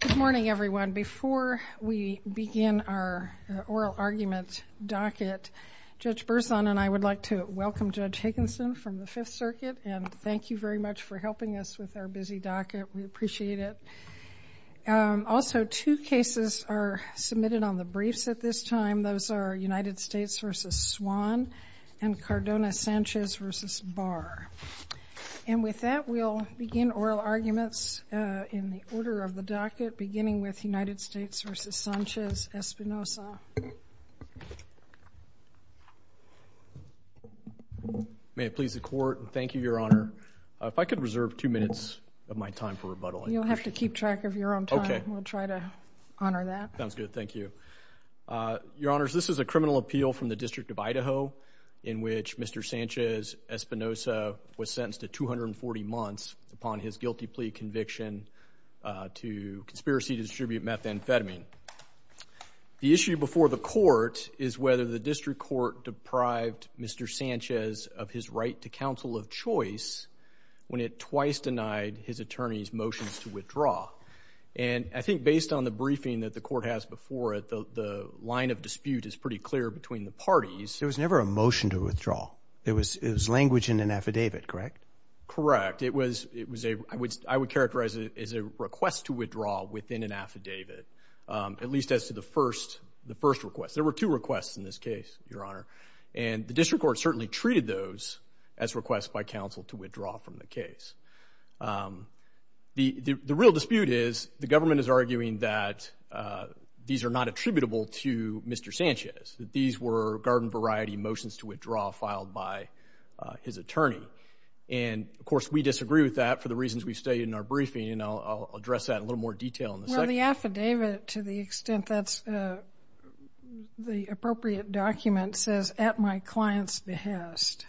Good morning, everyone. Before we begin our oral argument docket, Judge Berzon and I would like to welcome Judge Higginson from the Fifth Circuit, and thank you very much for helping us with our busy docket. We appreciate it. Also, two cases are submitted on the briefs at this time. Those are United States v. Swan and Cardona Sanchez v. Barr. And with that, we'll begin oral arguments in the order of the docket, beginning with United States v. Sanchez-Espinosa. May it please the Court, thank you, Your Honor. If I could reserve two minutes of my time for rebuttal. You'll have to keep track of your own time. We'll try to honor that. Sounds good. Thank you. Your Honors, this is a criminal appeal from the District of his guilty plea conviction to conspiracy to distribute methamphetamine. The issue before the Court is whether the District Court deprived Mr. Sanchez of his right to counsel of choice when it twice denied his attorney's motions to withdraw. And I think based on the briefing that the Court has before it, the line of dispute is pretty clear between the parties. There was never a motion to withdraw. It was language in an affidavit, correct? Correct. It was a, I would characterize it as a request to withdraw within an affidavit, at least as to the first request. There were two requests in this case, Your Honor. And the District Court certainly treated those as requests by counsel to withdraw from the case. The real dispute is the government is arguing that these are not attributable to Mr. Sanchez, that these were garden variety motions to withdraw filed by his attorney. And, of course, we disagree with that for the reasons we stated in our briefing. And I'll address that in a little more detail in a second. Well, the affidavit, to the extent that's the appropriate document, says, at my client's behest.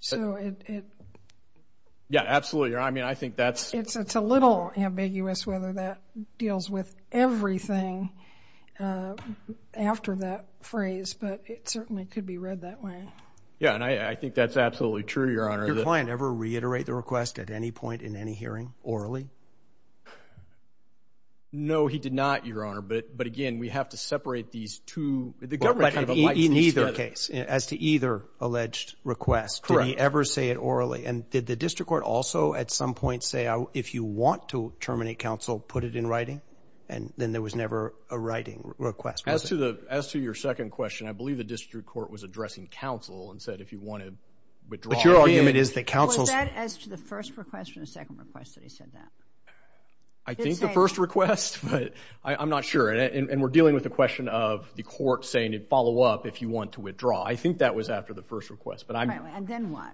So it... Yeah, absolutely, Your Honor. I mean, I think that's... It's a little ambiguous whether that deals with everything after that phrase, but it certainly could be read that way. Yeah, and I think that's absolutely true, Your Honor. Did your client ever reiterate the request at any point in any hearing, orally? No, he did not, Your Honor. But again, we have to separate these two... The government kind of likes these together. But in either case, as to either alleged request... Correct. Did he ever say it orally? And did the District Court also at some point say, if you want to terminate counsel, put it in writing? And then there was never a writing request, was there? As to your second question, I believe the District Court withdrew it. But your argument is that counsel... Was that as to the first request or the second request that he said that? I think the first request, but I'm not sure. And we're dealing with the question of the court saying, follow up if you want to withdraw. I think that was after the first request, but I'm... And then what?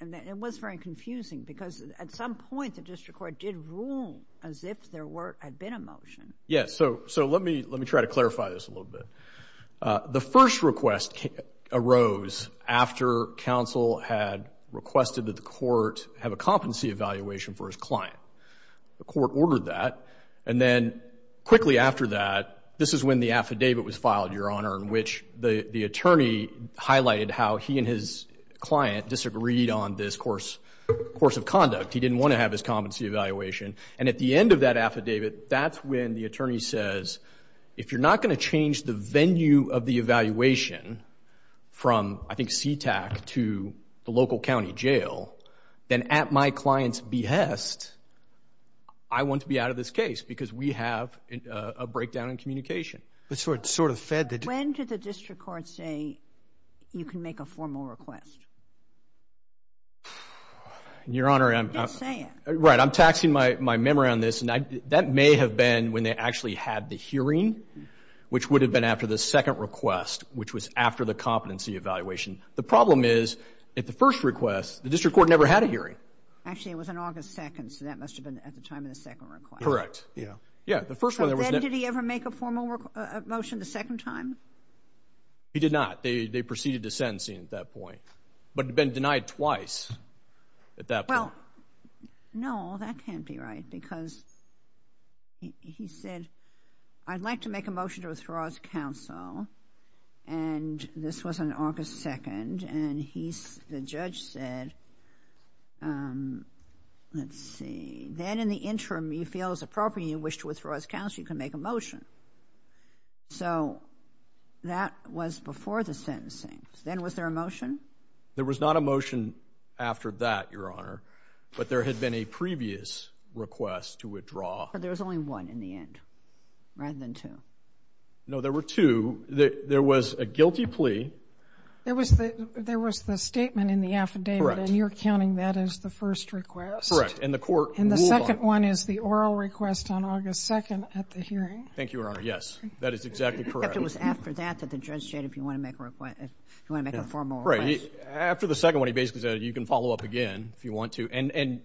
It was very confusing because at some point, the District Court did rule as if there had been a motion. Yeah, so let me try to clarify this a little bit. The first request arose after counsel had requested that the court have a competency evaluation for his client. The court ordered that. And then quickly after that, this is when the affidavit was filed, Your Honor, in which the attorney highlighted how he and his client disagreed on this course of conduct. He didn't want to have his competency evaluation. And at the end of that affidavit, that's when the attorney says, if you're not going to change the venue of the evaluation from, I think, CTAC to the local county jail, then at my client's behest, I want to be out of this case because we have a breakdown in communication. So it sort of fed the... When did the District Court say you can make a formal request? Your Honor, I'm... Just say it. Right. I'm taxing my memory on this. That may have been when they actually had the hearing, which would have been after the second request, which was after the competency evaluation. The problem is at the first request, the District Court never had a hearing. Actually, it was on August 2nd, so that must have been at the time of the second request. Correct. Yeah. Yeah, the first one... So then did he ever make a formal motion the second time? He did not. They proceeded to sentencing at that point, but had been denied twice at that point. Well, no, that can't be right because he said, I'd like to make a motion to withdraw as counsel, and this was on August 2nd, and the judge said, let's see, then in the interim, you feel it's appropriate, you wish to withdraw as counsel, you can make a motion. So that was before the sentencing. Then was there a motion? There was not a motion after that, Your Honor, but there had been a previous request to withdraw. But there was only one in the end, rather than two. No, there were two. There was a guilty plea... There was the statement in the affidavit, and you're counting that as the first request? Correct, and the court ruled on it. And the second one is the oral request on August 2nd at the hearing? Thank you, Your Honor. Yes, that is exactly correct. But it was after that that the judge said, if you want to make a request, if you want to make a formal request. Right. After the second one, he basically said, you can follow up again if you want to, and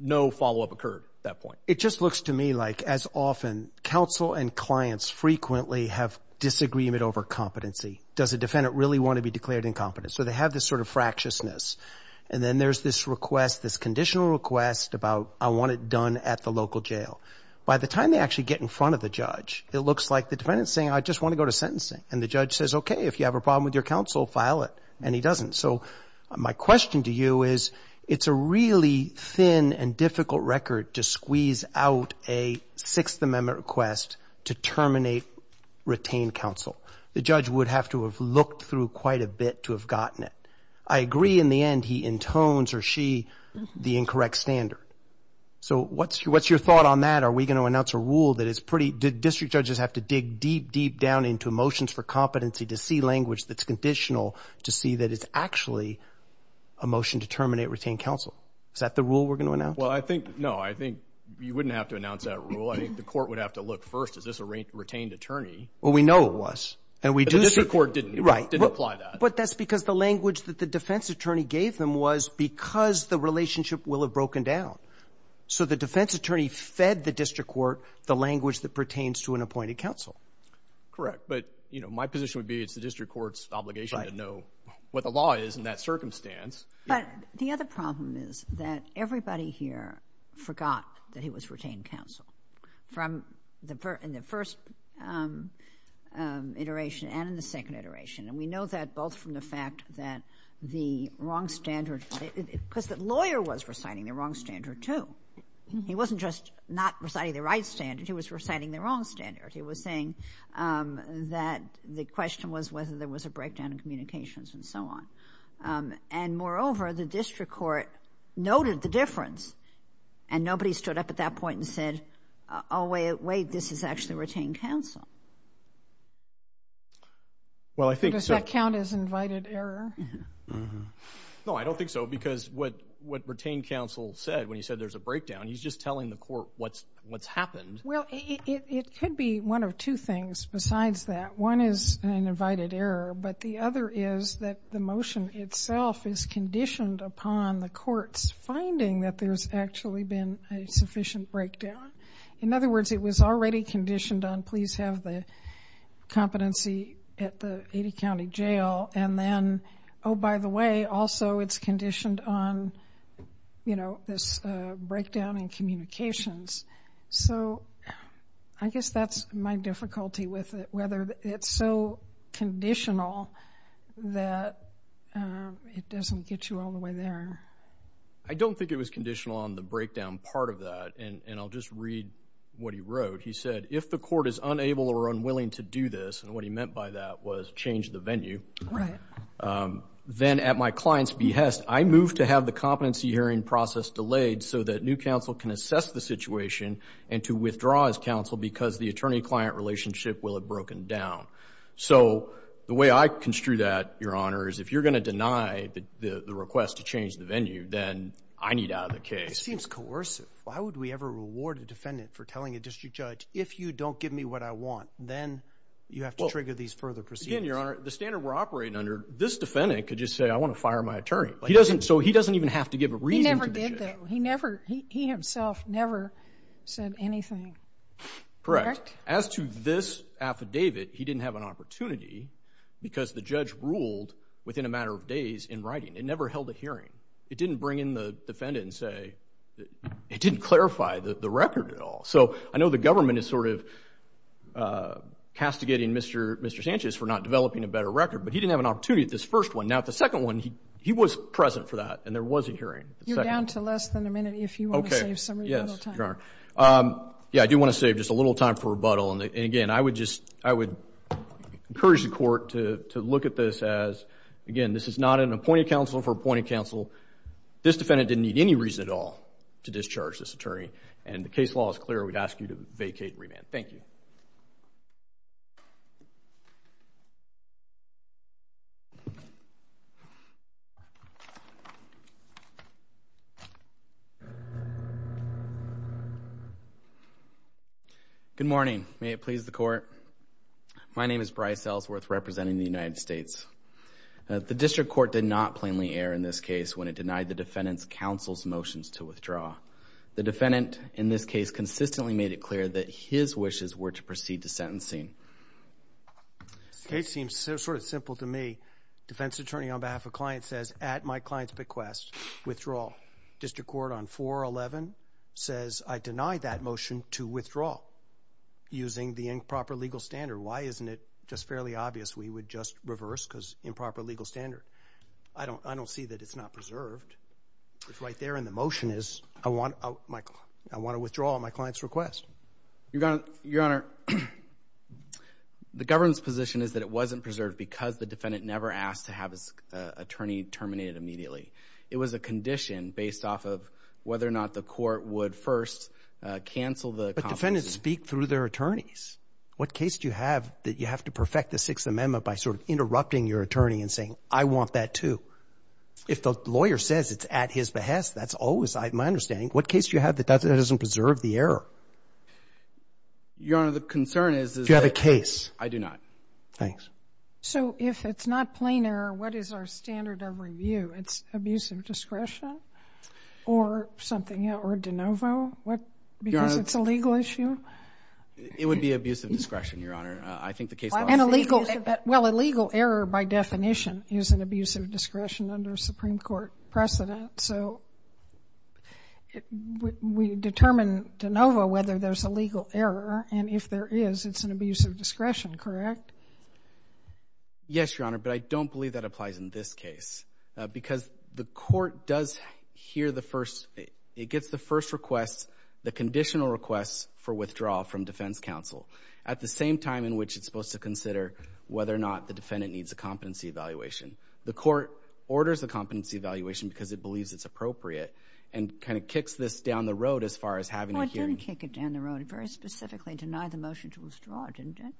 no follow-up occurred at that point. It just looks to me like, as often, counsel and clients frequently have disagreement over competency. Does a defendant really want to be declared incompetent? So they have this sort of fractiousness, and then there's this request, this conditional request about, I want it done at the local jail. By the time they actually get in front of the judge, it looks like the defendant's saying, I just want to go to sentencing, and the judge says, okay, if you have a problem with your counsel, file it. And he doesn't. So my question to you is, it's a really thin and difficult record to squeeze out a Sixth Amendment request to terminate retained counsel. The judge would have to have looked through quite a bit to have gotten it. I agree, in the end, he intones, or she, the incorrect standard. So what's your thought on that? Are we going to announce a rule that is pretty Did district judges have to dig deep, deep down into motions for competency to see language that's conditional, to see that it's actually a motion to terminate retained counsel? Is that the rule we're going to announce? Well, I think, no, I think you wouldn't have to announce that rule. I think the court would have to look first, is this a retained attorney? Well, we know it was, and we do see... The district court didn't apply that. But that's because the language that the defense attorney gave them was, because the relationship will have broken down. So the defense attorney fed the district court the language that pertains to an appointed counsel. Correct. But, you know, my position would be it's the district court's obligation to know what the law is in that circumstance. But the other problem is that everybody here forgot that he was retained counsel from the first iteration and in the second iteration. And we know that both from the fact that the wrong standard, because the lawyer was reciting the wrong standard, too. He wasn't just not reciting the right standard, he was reciting the wrong standard. He was saying that the question was whether there was a breakdown in communications and so on. And moreover, the district court noted the difference, and nobody stood up at that point and said, oh, wait, this is actually retained counsel. Well, I think... Does that count as invited error? No, I don't think so, because what retained counsel said when he said there's a breakdown, he's just telling the court what's happened. Well, it could be one of two things besides that. One is an invited error, but the other is that the motion itself is conditioned upon the court's finding that there's actually been a sufficient breakdown. In other words, it was already conditioned on, please have the competency at the 80 County Jail. And then, oh, by the way, also it's conditioned on, you know, this breakdown in communications. So I guess that's my difficulty with it, whether it's so conditional that it doesn't get you all the way there. I don't think it was conditional on the breakdown part of that. And I'll just read what he wrote. He said, if the court is unable or unwilling to do this, and what he meant by that was change the venue, then at my client's behest, I move to have the competency hearing process delayed so that new counsel can assess the situation and to withdraw as counsel because the attorney-client relationship will have broken down. So the way I construe that, Your Honor, is if you're going to deny the request to change the venue, then I need out of the case. It just seems coercive. Why would we ever reward a defendant for telling a district judge, if you don't give me what I want, then you have to trigger these further proceedings? Again, Your Honor, the standard we're operating under, this defendant could just say, I want to fire my attorney. So he doesn't even have to give a reason to do that. He never did, though. He himself never said anything. Correct. As to this affidavit, he didn't have an opportunity because the judge ruled within a matter of days in writing. It never held a hearing. It didn't bring in the defendant and say, it didn't clarify the record at all. So I know the government is sort of castigating Mr. Sanchez for not developing a better record, but he didn't have an opportunity at this first one. Now, at the second one, he was present for that, and there was a hearing. You're down to less than a minute, if you want to save somebody a little time. Okay. Yes, Your Honor. Yeah, I do want to save just a little time for rebuttal. And again, I would just, I would encourage the Court to look at this as, again, this is not an appointed counsel for appointed counsel. This defendant didn't need any reason at all to discharge this attorney. And the case law is clear. We'd ask you to vacate and remand. Thank you. Good morning. May it please the Court. My name is Bryce Ellsworth, representing the United States. The District Court did not plainly err in this case when it denied the defendant's counsel's motions to withdraw. The defendant, in this case, consistently made it clear that his wishes were to proceed to sentencing. This case seems sort of simple to me. Defense attorney on behalf of client says, at my client's bequest, withdraw. District Court on 411 says, I deny that motion to withdraw using the improper legal standard. Why isn't it just fairly obvious we would just reverse because improper legal standard? I don't see that it's not preserved. It's right there in the motion is I want to withdraw at my client's request. Your Honor, the government's position is that it wasn't preserved because the defendant never asked to have his attorney terminated immediately. It was a condition based off of whether or not the Court would first cancel the compensation. But defendants speak through their attorneys. What case do you have that you have to perfect the Sixth Amendment by sort of interrupting your attorney and saying, I want that, too? If the lawyer says it's at his behest, that's always my understanding. What case do you have that doesn't preserve the error? Your Honor, the concern is that you have a case. I do not. Thanks. So if it's not plain error, what is our standard of review? It's abuse of discretion or something, or de novo, because it's a legal issue? It would be abuse of discretion, Your Honor. I think the case... Well, a legal error, by definition, is an abuse of discretion under Supreme Court precedent. So we determine de novo whether there's a legal error, and if there is, it's an abuse of discretion, correct? Yes, Your Honor, but I don't believe that applies in this case, because the Court does hear the first... It gets the first request, the conditional request for withdrawal from defense counsel at the same time in which it's supposed to consider whether or not the defendant needs a competency evaluation. The Court orders a competency evaluation because it believes it's appropriate and kind of kicks this down the road as far as having a hearing. Well, it didn't kick it down the road. It very specifically denied the motion to withdraw, didn't it?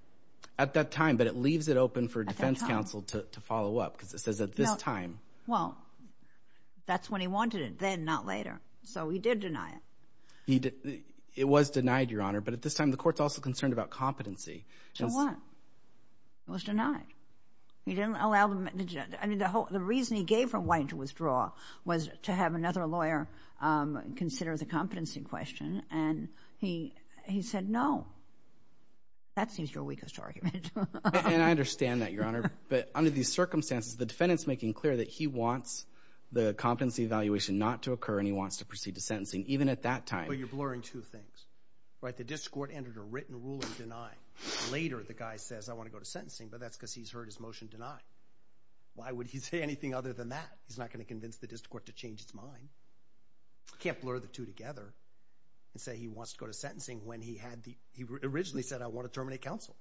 At that time, but it leaves it open for defense counsel to follow up, because it says at this time. Well, that's when he wanted it, then, not later. So he did deny it. It was denied, Your Honor, but at this time, the Court's also concerned about competency. To what? It was denied. He didn't allow them... I mean, the reason he gave for White to withdraw was to have another lawyer consider the competency question, and he said, no. That seems your weakest argument. And I understand that, Your Honor, but under these circumstances, the defendant's making clear that he wants the competency evaluation not to occur and he wants to proceed to sentencing, even at that time. But you're blurring two things, right? The district court entered a written ruling denying. Later, the guy says, I want to go to sentencing, but that's because he's heard his motion denied. Why would he say anything other than that? He's not going to convince the district court to change his mind. He can't blur the two and say he wants to go to sentencing when he originally said, I want to terminate counsel.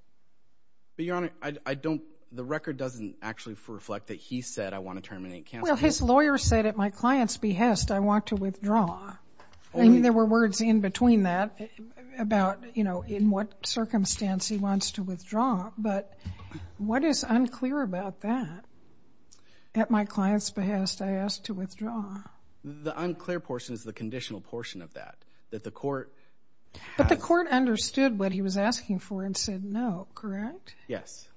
But, Your Honor, I don't... The record doesn't actually reflect that he said, I want to terminate counsel. Well, his lawyer said, at my client's behest, I want to withdraw. I mean, there were words in between that about, you know, in what circumstance he wants to withdraw, but what is unclear about that? At my client's behest, I asked to withdraw. The unclear portion is the conditional portion of that, that the court... But the court understood what he was asking for and said no, correct? Yes.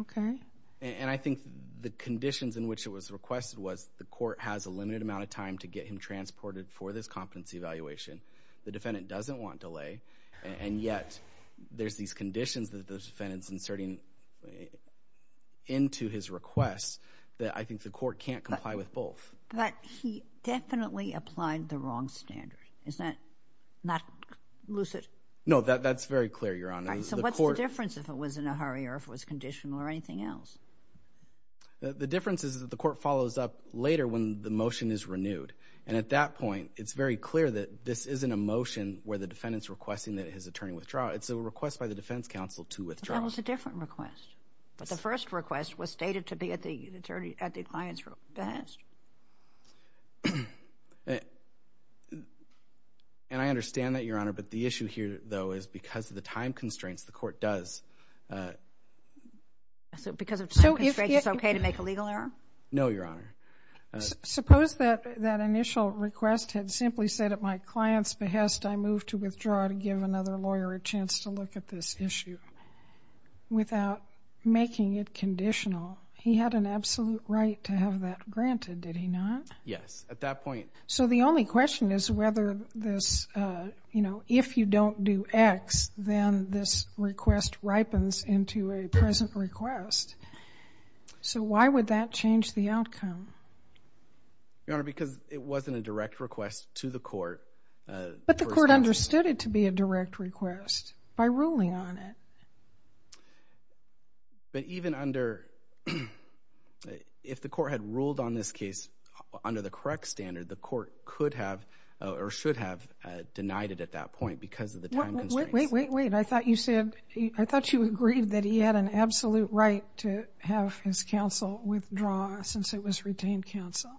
Okay. And I think the conditions in which it was requested was the court has a limited amount of time to get him transported for this competency evaluation. The defendant doesn't want delay, and yet there's these conditions that the defendant's inserting into his request that I think the court can't comply with both. But he definitely applied the wrong standard. Is that not lucid? No, that's very clear, Your Honor. So what's the difference if it was in a hurry or if it was conditional or anything else? The difference is that the court follows up later when the motion is renewed. And at that point, it's very clear that this isn't a motion where the defendant's requesting that his attorney withdraw. It's a request by the defense counsel to withdraw. That was a different request. The first request was stated to be at the client's behest. And I understand that, Your Honor, but the issue here, though, is because of the time constraints, the court does... Because of time constraints, it's okay to make a legal error? No, Your Honor. Suppose that initial request had simply said at my client's behest, I move to withdraw to give another lawyer a chance to look at this issue without making it conditional. He had an absolute right to have that granted, did he not? Yes, at that point. So the only question is whether this, you know, if you don't do X, then this request ripens into a present request. So why would that change the outcome? Your Honor, because it wasn't a direct request to the court. But the court understood it to be a direct request by ruling on it. But even under... If the court had ruled on this case under the correct standard, the court could have or should have denied it at that point because of the time constraints. Wait, wait, wait. I thought you said... I thought you agreed that he had an absolute right to have his counsel withdraw since it was retained counsel.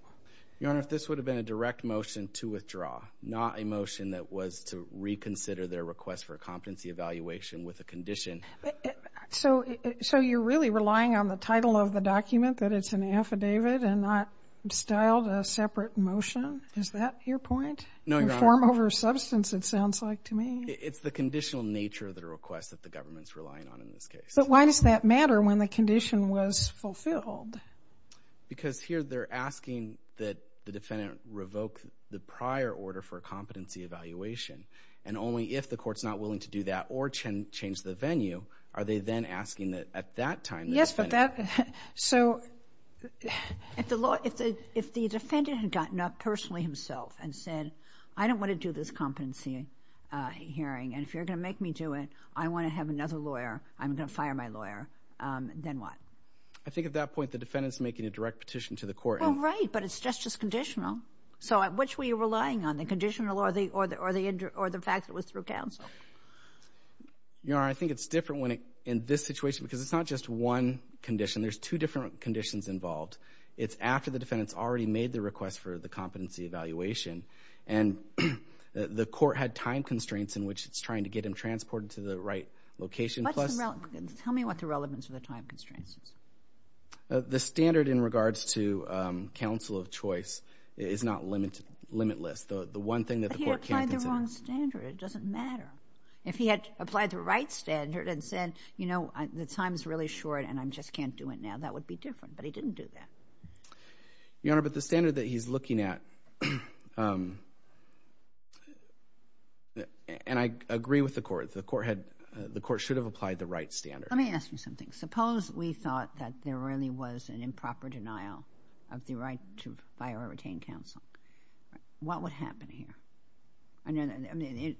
Your Honor, if this would have been a direct motion to withdraw, not a motion that was to reconsider their request for a competency evaluation with a condition... So you're really relying on the title of the document that it's an affidavit and not styled a separate motion? Is that your point? No, Your Honor. In form over substance, it sounds like to me. It's the conditional nature of the request that the government's relying on in this case. But why does that matter when the condition was fulfilled? Because here they're asking that the defendant revoke the prior order for a competency evaluation. And only if the court's not willing to do that or change the venue are they then asking that at that time... Yes, but that... So if the defendant had gotten up personally himself and said, I don't want to do this competency hearing. And if you're going to make me do it, I want to have another lawyer. I'm going to fire my lawyer. Then what? I think at that point, the defendant's making a direct petition to the court. Oh, right. But it's just conditional. So at which were you relying on? The conditional or the fact that it was through counsel? Your Honor, I think it's different in this situation because it's not just one condition. There's two different conditions involved. It's after the defendant's already made the request for the competency evaluation. And the court had time constraints in which it's trying to get him transported to the right location. Tell me what the relevance of the time constraints is. The standard in regards to counsel of choice is not limitless. The one thing that the court... But he applied the wrong standard. It doesn't matter. If he had applied the right standard and said, you know, the time's really short and I just can't do it now, that would be different. But he didn't do that. Your Honor, but the standard that he's looking at... And I agree with the court. The court should have applied the right standard. Let me ask you something. Suppose we thought that there really was an improper denial of the right to fire or retain counsel. What would happen here? I mean,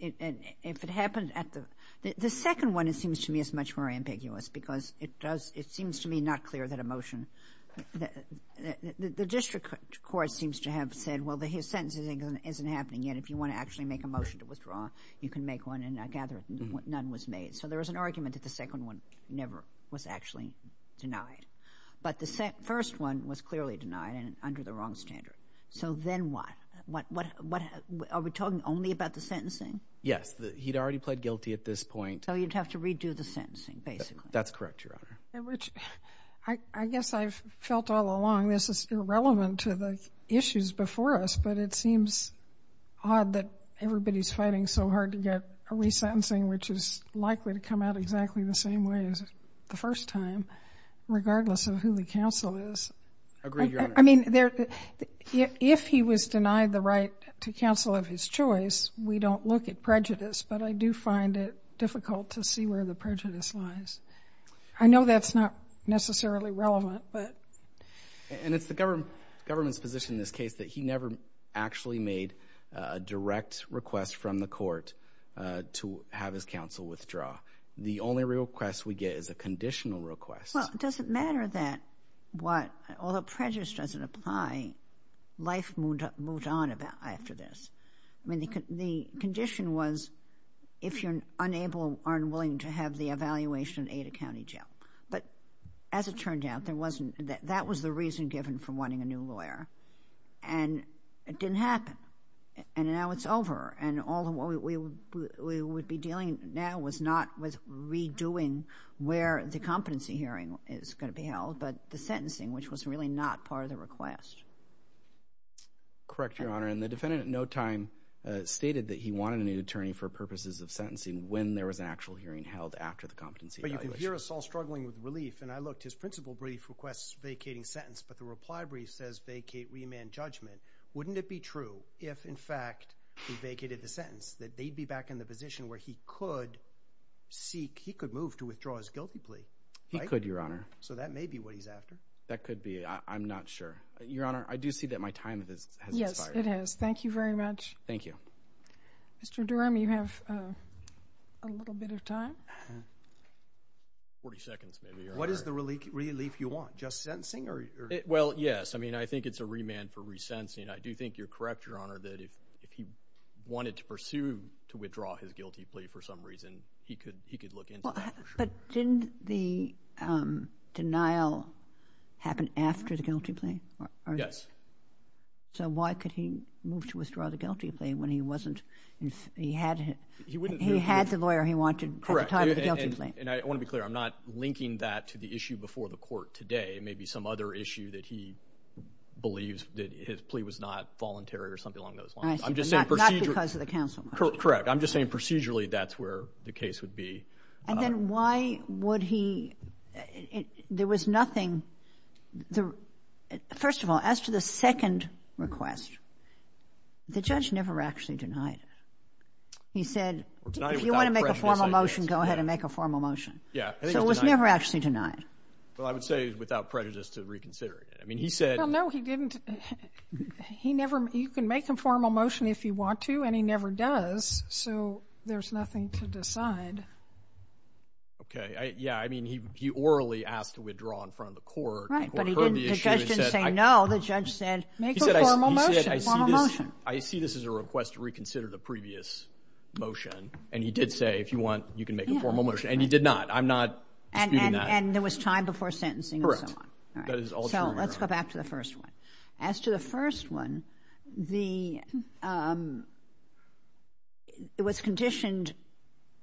if it happened at the... The second one, it seems to me, is much more ambiguous because it does... It seems to me not clear that a motion... The district court seems to have said, well, his sentence isn't happening yet. If you want to actually make a motion to withdraw, you can make one and I gather none was made. So there was an argument that the second one never was actually denied. But the first one was clearly denied and under the wrong standard. So then what? Are we talking only about the sentencing? Yes. He'd already pled guilty at this point. So you'd have to redo the sentencing, basically. That's correct, Your Honor. I guess I've felt all along this is irrelevant to the which is likely to come out exactly the same way as the first time, regardless of who the counsel is. Agreed, Your Honor. I mean, if he was denied the right to counsel of his choice, we don't look at prejudice, but I do find it difficult to see where the prejudice lies. I know that's not necessarily relevant, but... And it's the government's position in this case that he never actually made a direct request from the court to have his counsel withdraw. The only request we get is a conditional request. Well, it doesn't matter that what... Although prejudice doesn't apply, life moved on after this. I mean, the condition was if you're unable or unwilling to have the evaluation in Ada County Jail. But as it turned out, that was the reason given for wanting a new it didn't happen. And now it's over. And all we would be dealing now was not with redoing where the competency hearing is going to be held, but the sentencing, which was really not part of the request. Correct, Your Honor. And the defendant at no time stated that he wanted a new attorney for purposes of sentencing when there was an actual hearing held after the competency evaluation. But you can hear us all struggling with relief. And I looked. His principal brief requests vacating sentence, but the reply brief says vacate remand judgment. Wouldn't it be true if, in fact, he vacated the sentence that they'd be back in the position where he could seek, he could move to withdraw his guilty plea? He could, Your Honor. So that may be what he's after. That could be. I'm not sure. Your Honor, I do see that my time has expired. Yes, it has. Thank you very much. Thank you. Mr. Durham, you have a little bit of time. 40 seconds, maybe. What is the relief you want? Just sentencing? Well, yes. I mean, I think it's a remand for resentencing. I do think you're correct, Your Honor, that if he wanted to pursue to withdraw his guilty plea for some reason, he could look into that. But didn't the denial happen after the guilty plea? Yes. So why could he move to withdraw the guilty plea when he had the lawyer he wanted at the time of the guilty plea? And I want to be clear. I'm not linking that to the issue before the court today. It may be some other issue that he believes that his plea was not voluntary or something along those lines. I see. But not because of the counsel motion? Correct. I'm just saying procedurally, that's where the case would be. And then why would he? There was nothing. First of all, as to the second request, the judge never actually denied it. He said, if you want to make a formal motion, go ahead and make a formal motion. Yeah. So it was never actually denied. Well, I would say without prejudice to reconsidering it. I mean, he said... Well, no, he didn't. You can make a formal motion if you want to, and he never does. So there's nothing to decide. Okay. Yeah. I mean, he orally asked to withdraw in front of the court. Right. But the judge didn't say no. The judge said, make a formal motion. I see this as a request to reconsider the previous motion. And he did say, if you want, you can make a formal motion. And he did not. I'm not disputing that. And there was time before sentencing and so on. Correct. So let's go back to the first one. As to the first one, it was conditioned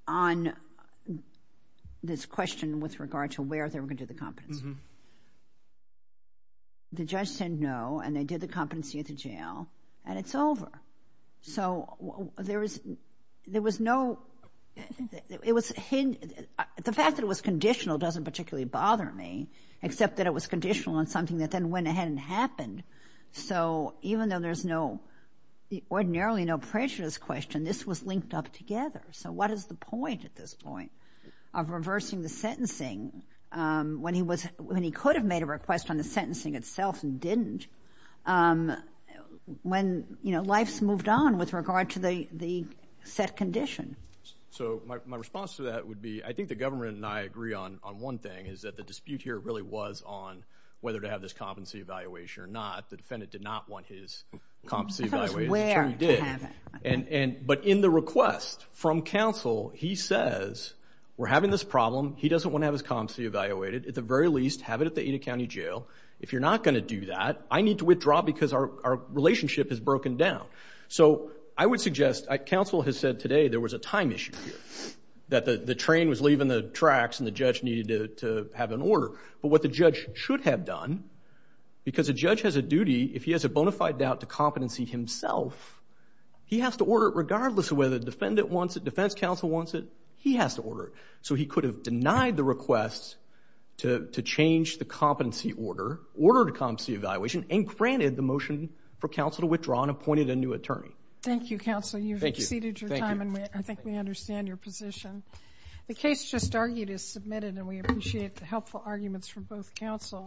on this question with regard to where they were going to do the competency. Mm-hmm. The judge said no, and they did the competency at the jail, and it's over. So the fact that it was conditional doesn't particularly bother me, except that it was conditional on something that then went ahead and happened. So even though there's ordinarily no prejudice question, this was linked up together. So what is the point at this point of reversing the sentencing when he could have made a request on the sentencing itself and didn't, when life's moved on with regard to the set condition? So my response to that would be, I think the government and I agree on one thing, is that the dispute here really was on whether to have this competency evaluation or not. The defendant did not want his competency evaluated. But in the request from counsel, he says, we're having this problem. He doesn't want to have his competency evaluated. At the very least, have it at the Ada County Jail. If you're not going to do that, I need to withdraw because our relationship has broken down. So I would suggest, counsel has said today there was a time issue here, that the train was leaving the tracks and the judge needed to have an order. But what the judge should have done, because a judge has a duty, if he has a bona fide doubt to competency himself, he has to order it regardless of whether the defendant wants it, defense counsel wants it, he has to order it. So he could have denied the request to change the competency order, ordered competency evaluation, and granted the motion for counsel to withdraw and appointed a new attorney. Thank you, counsel. You've exceeded your time and I think we understand your position. The case just argued is submitted and we appreciate the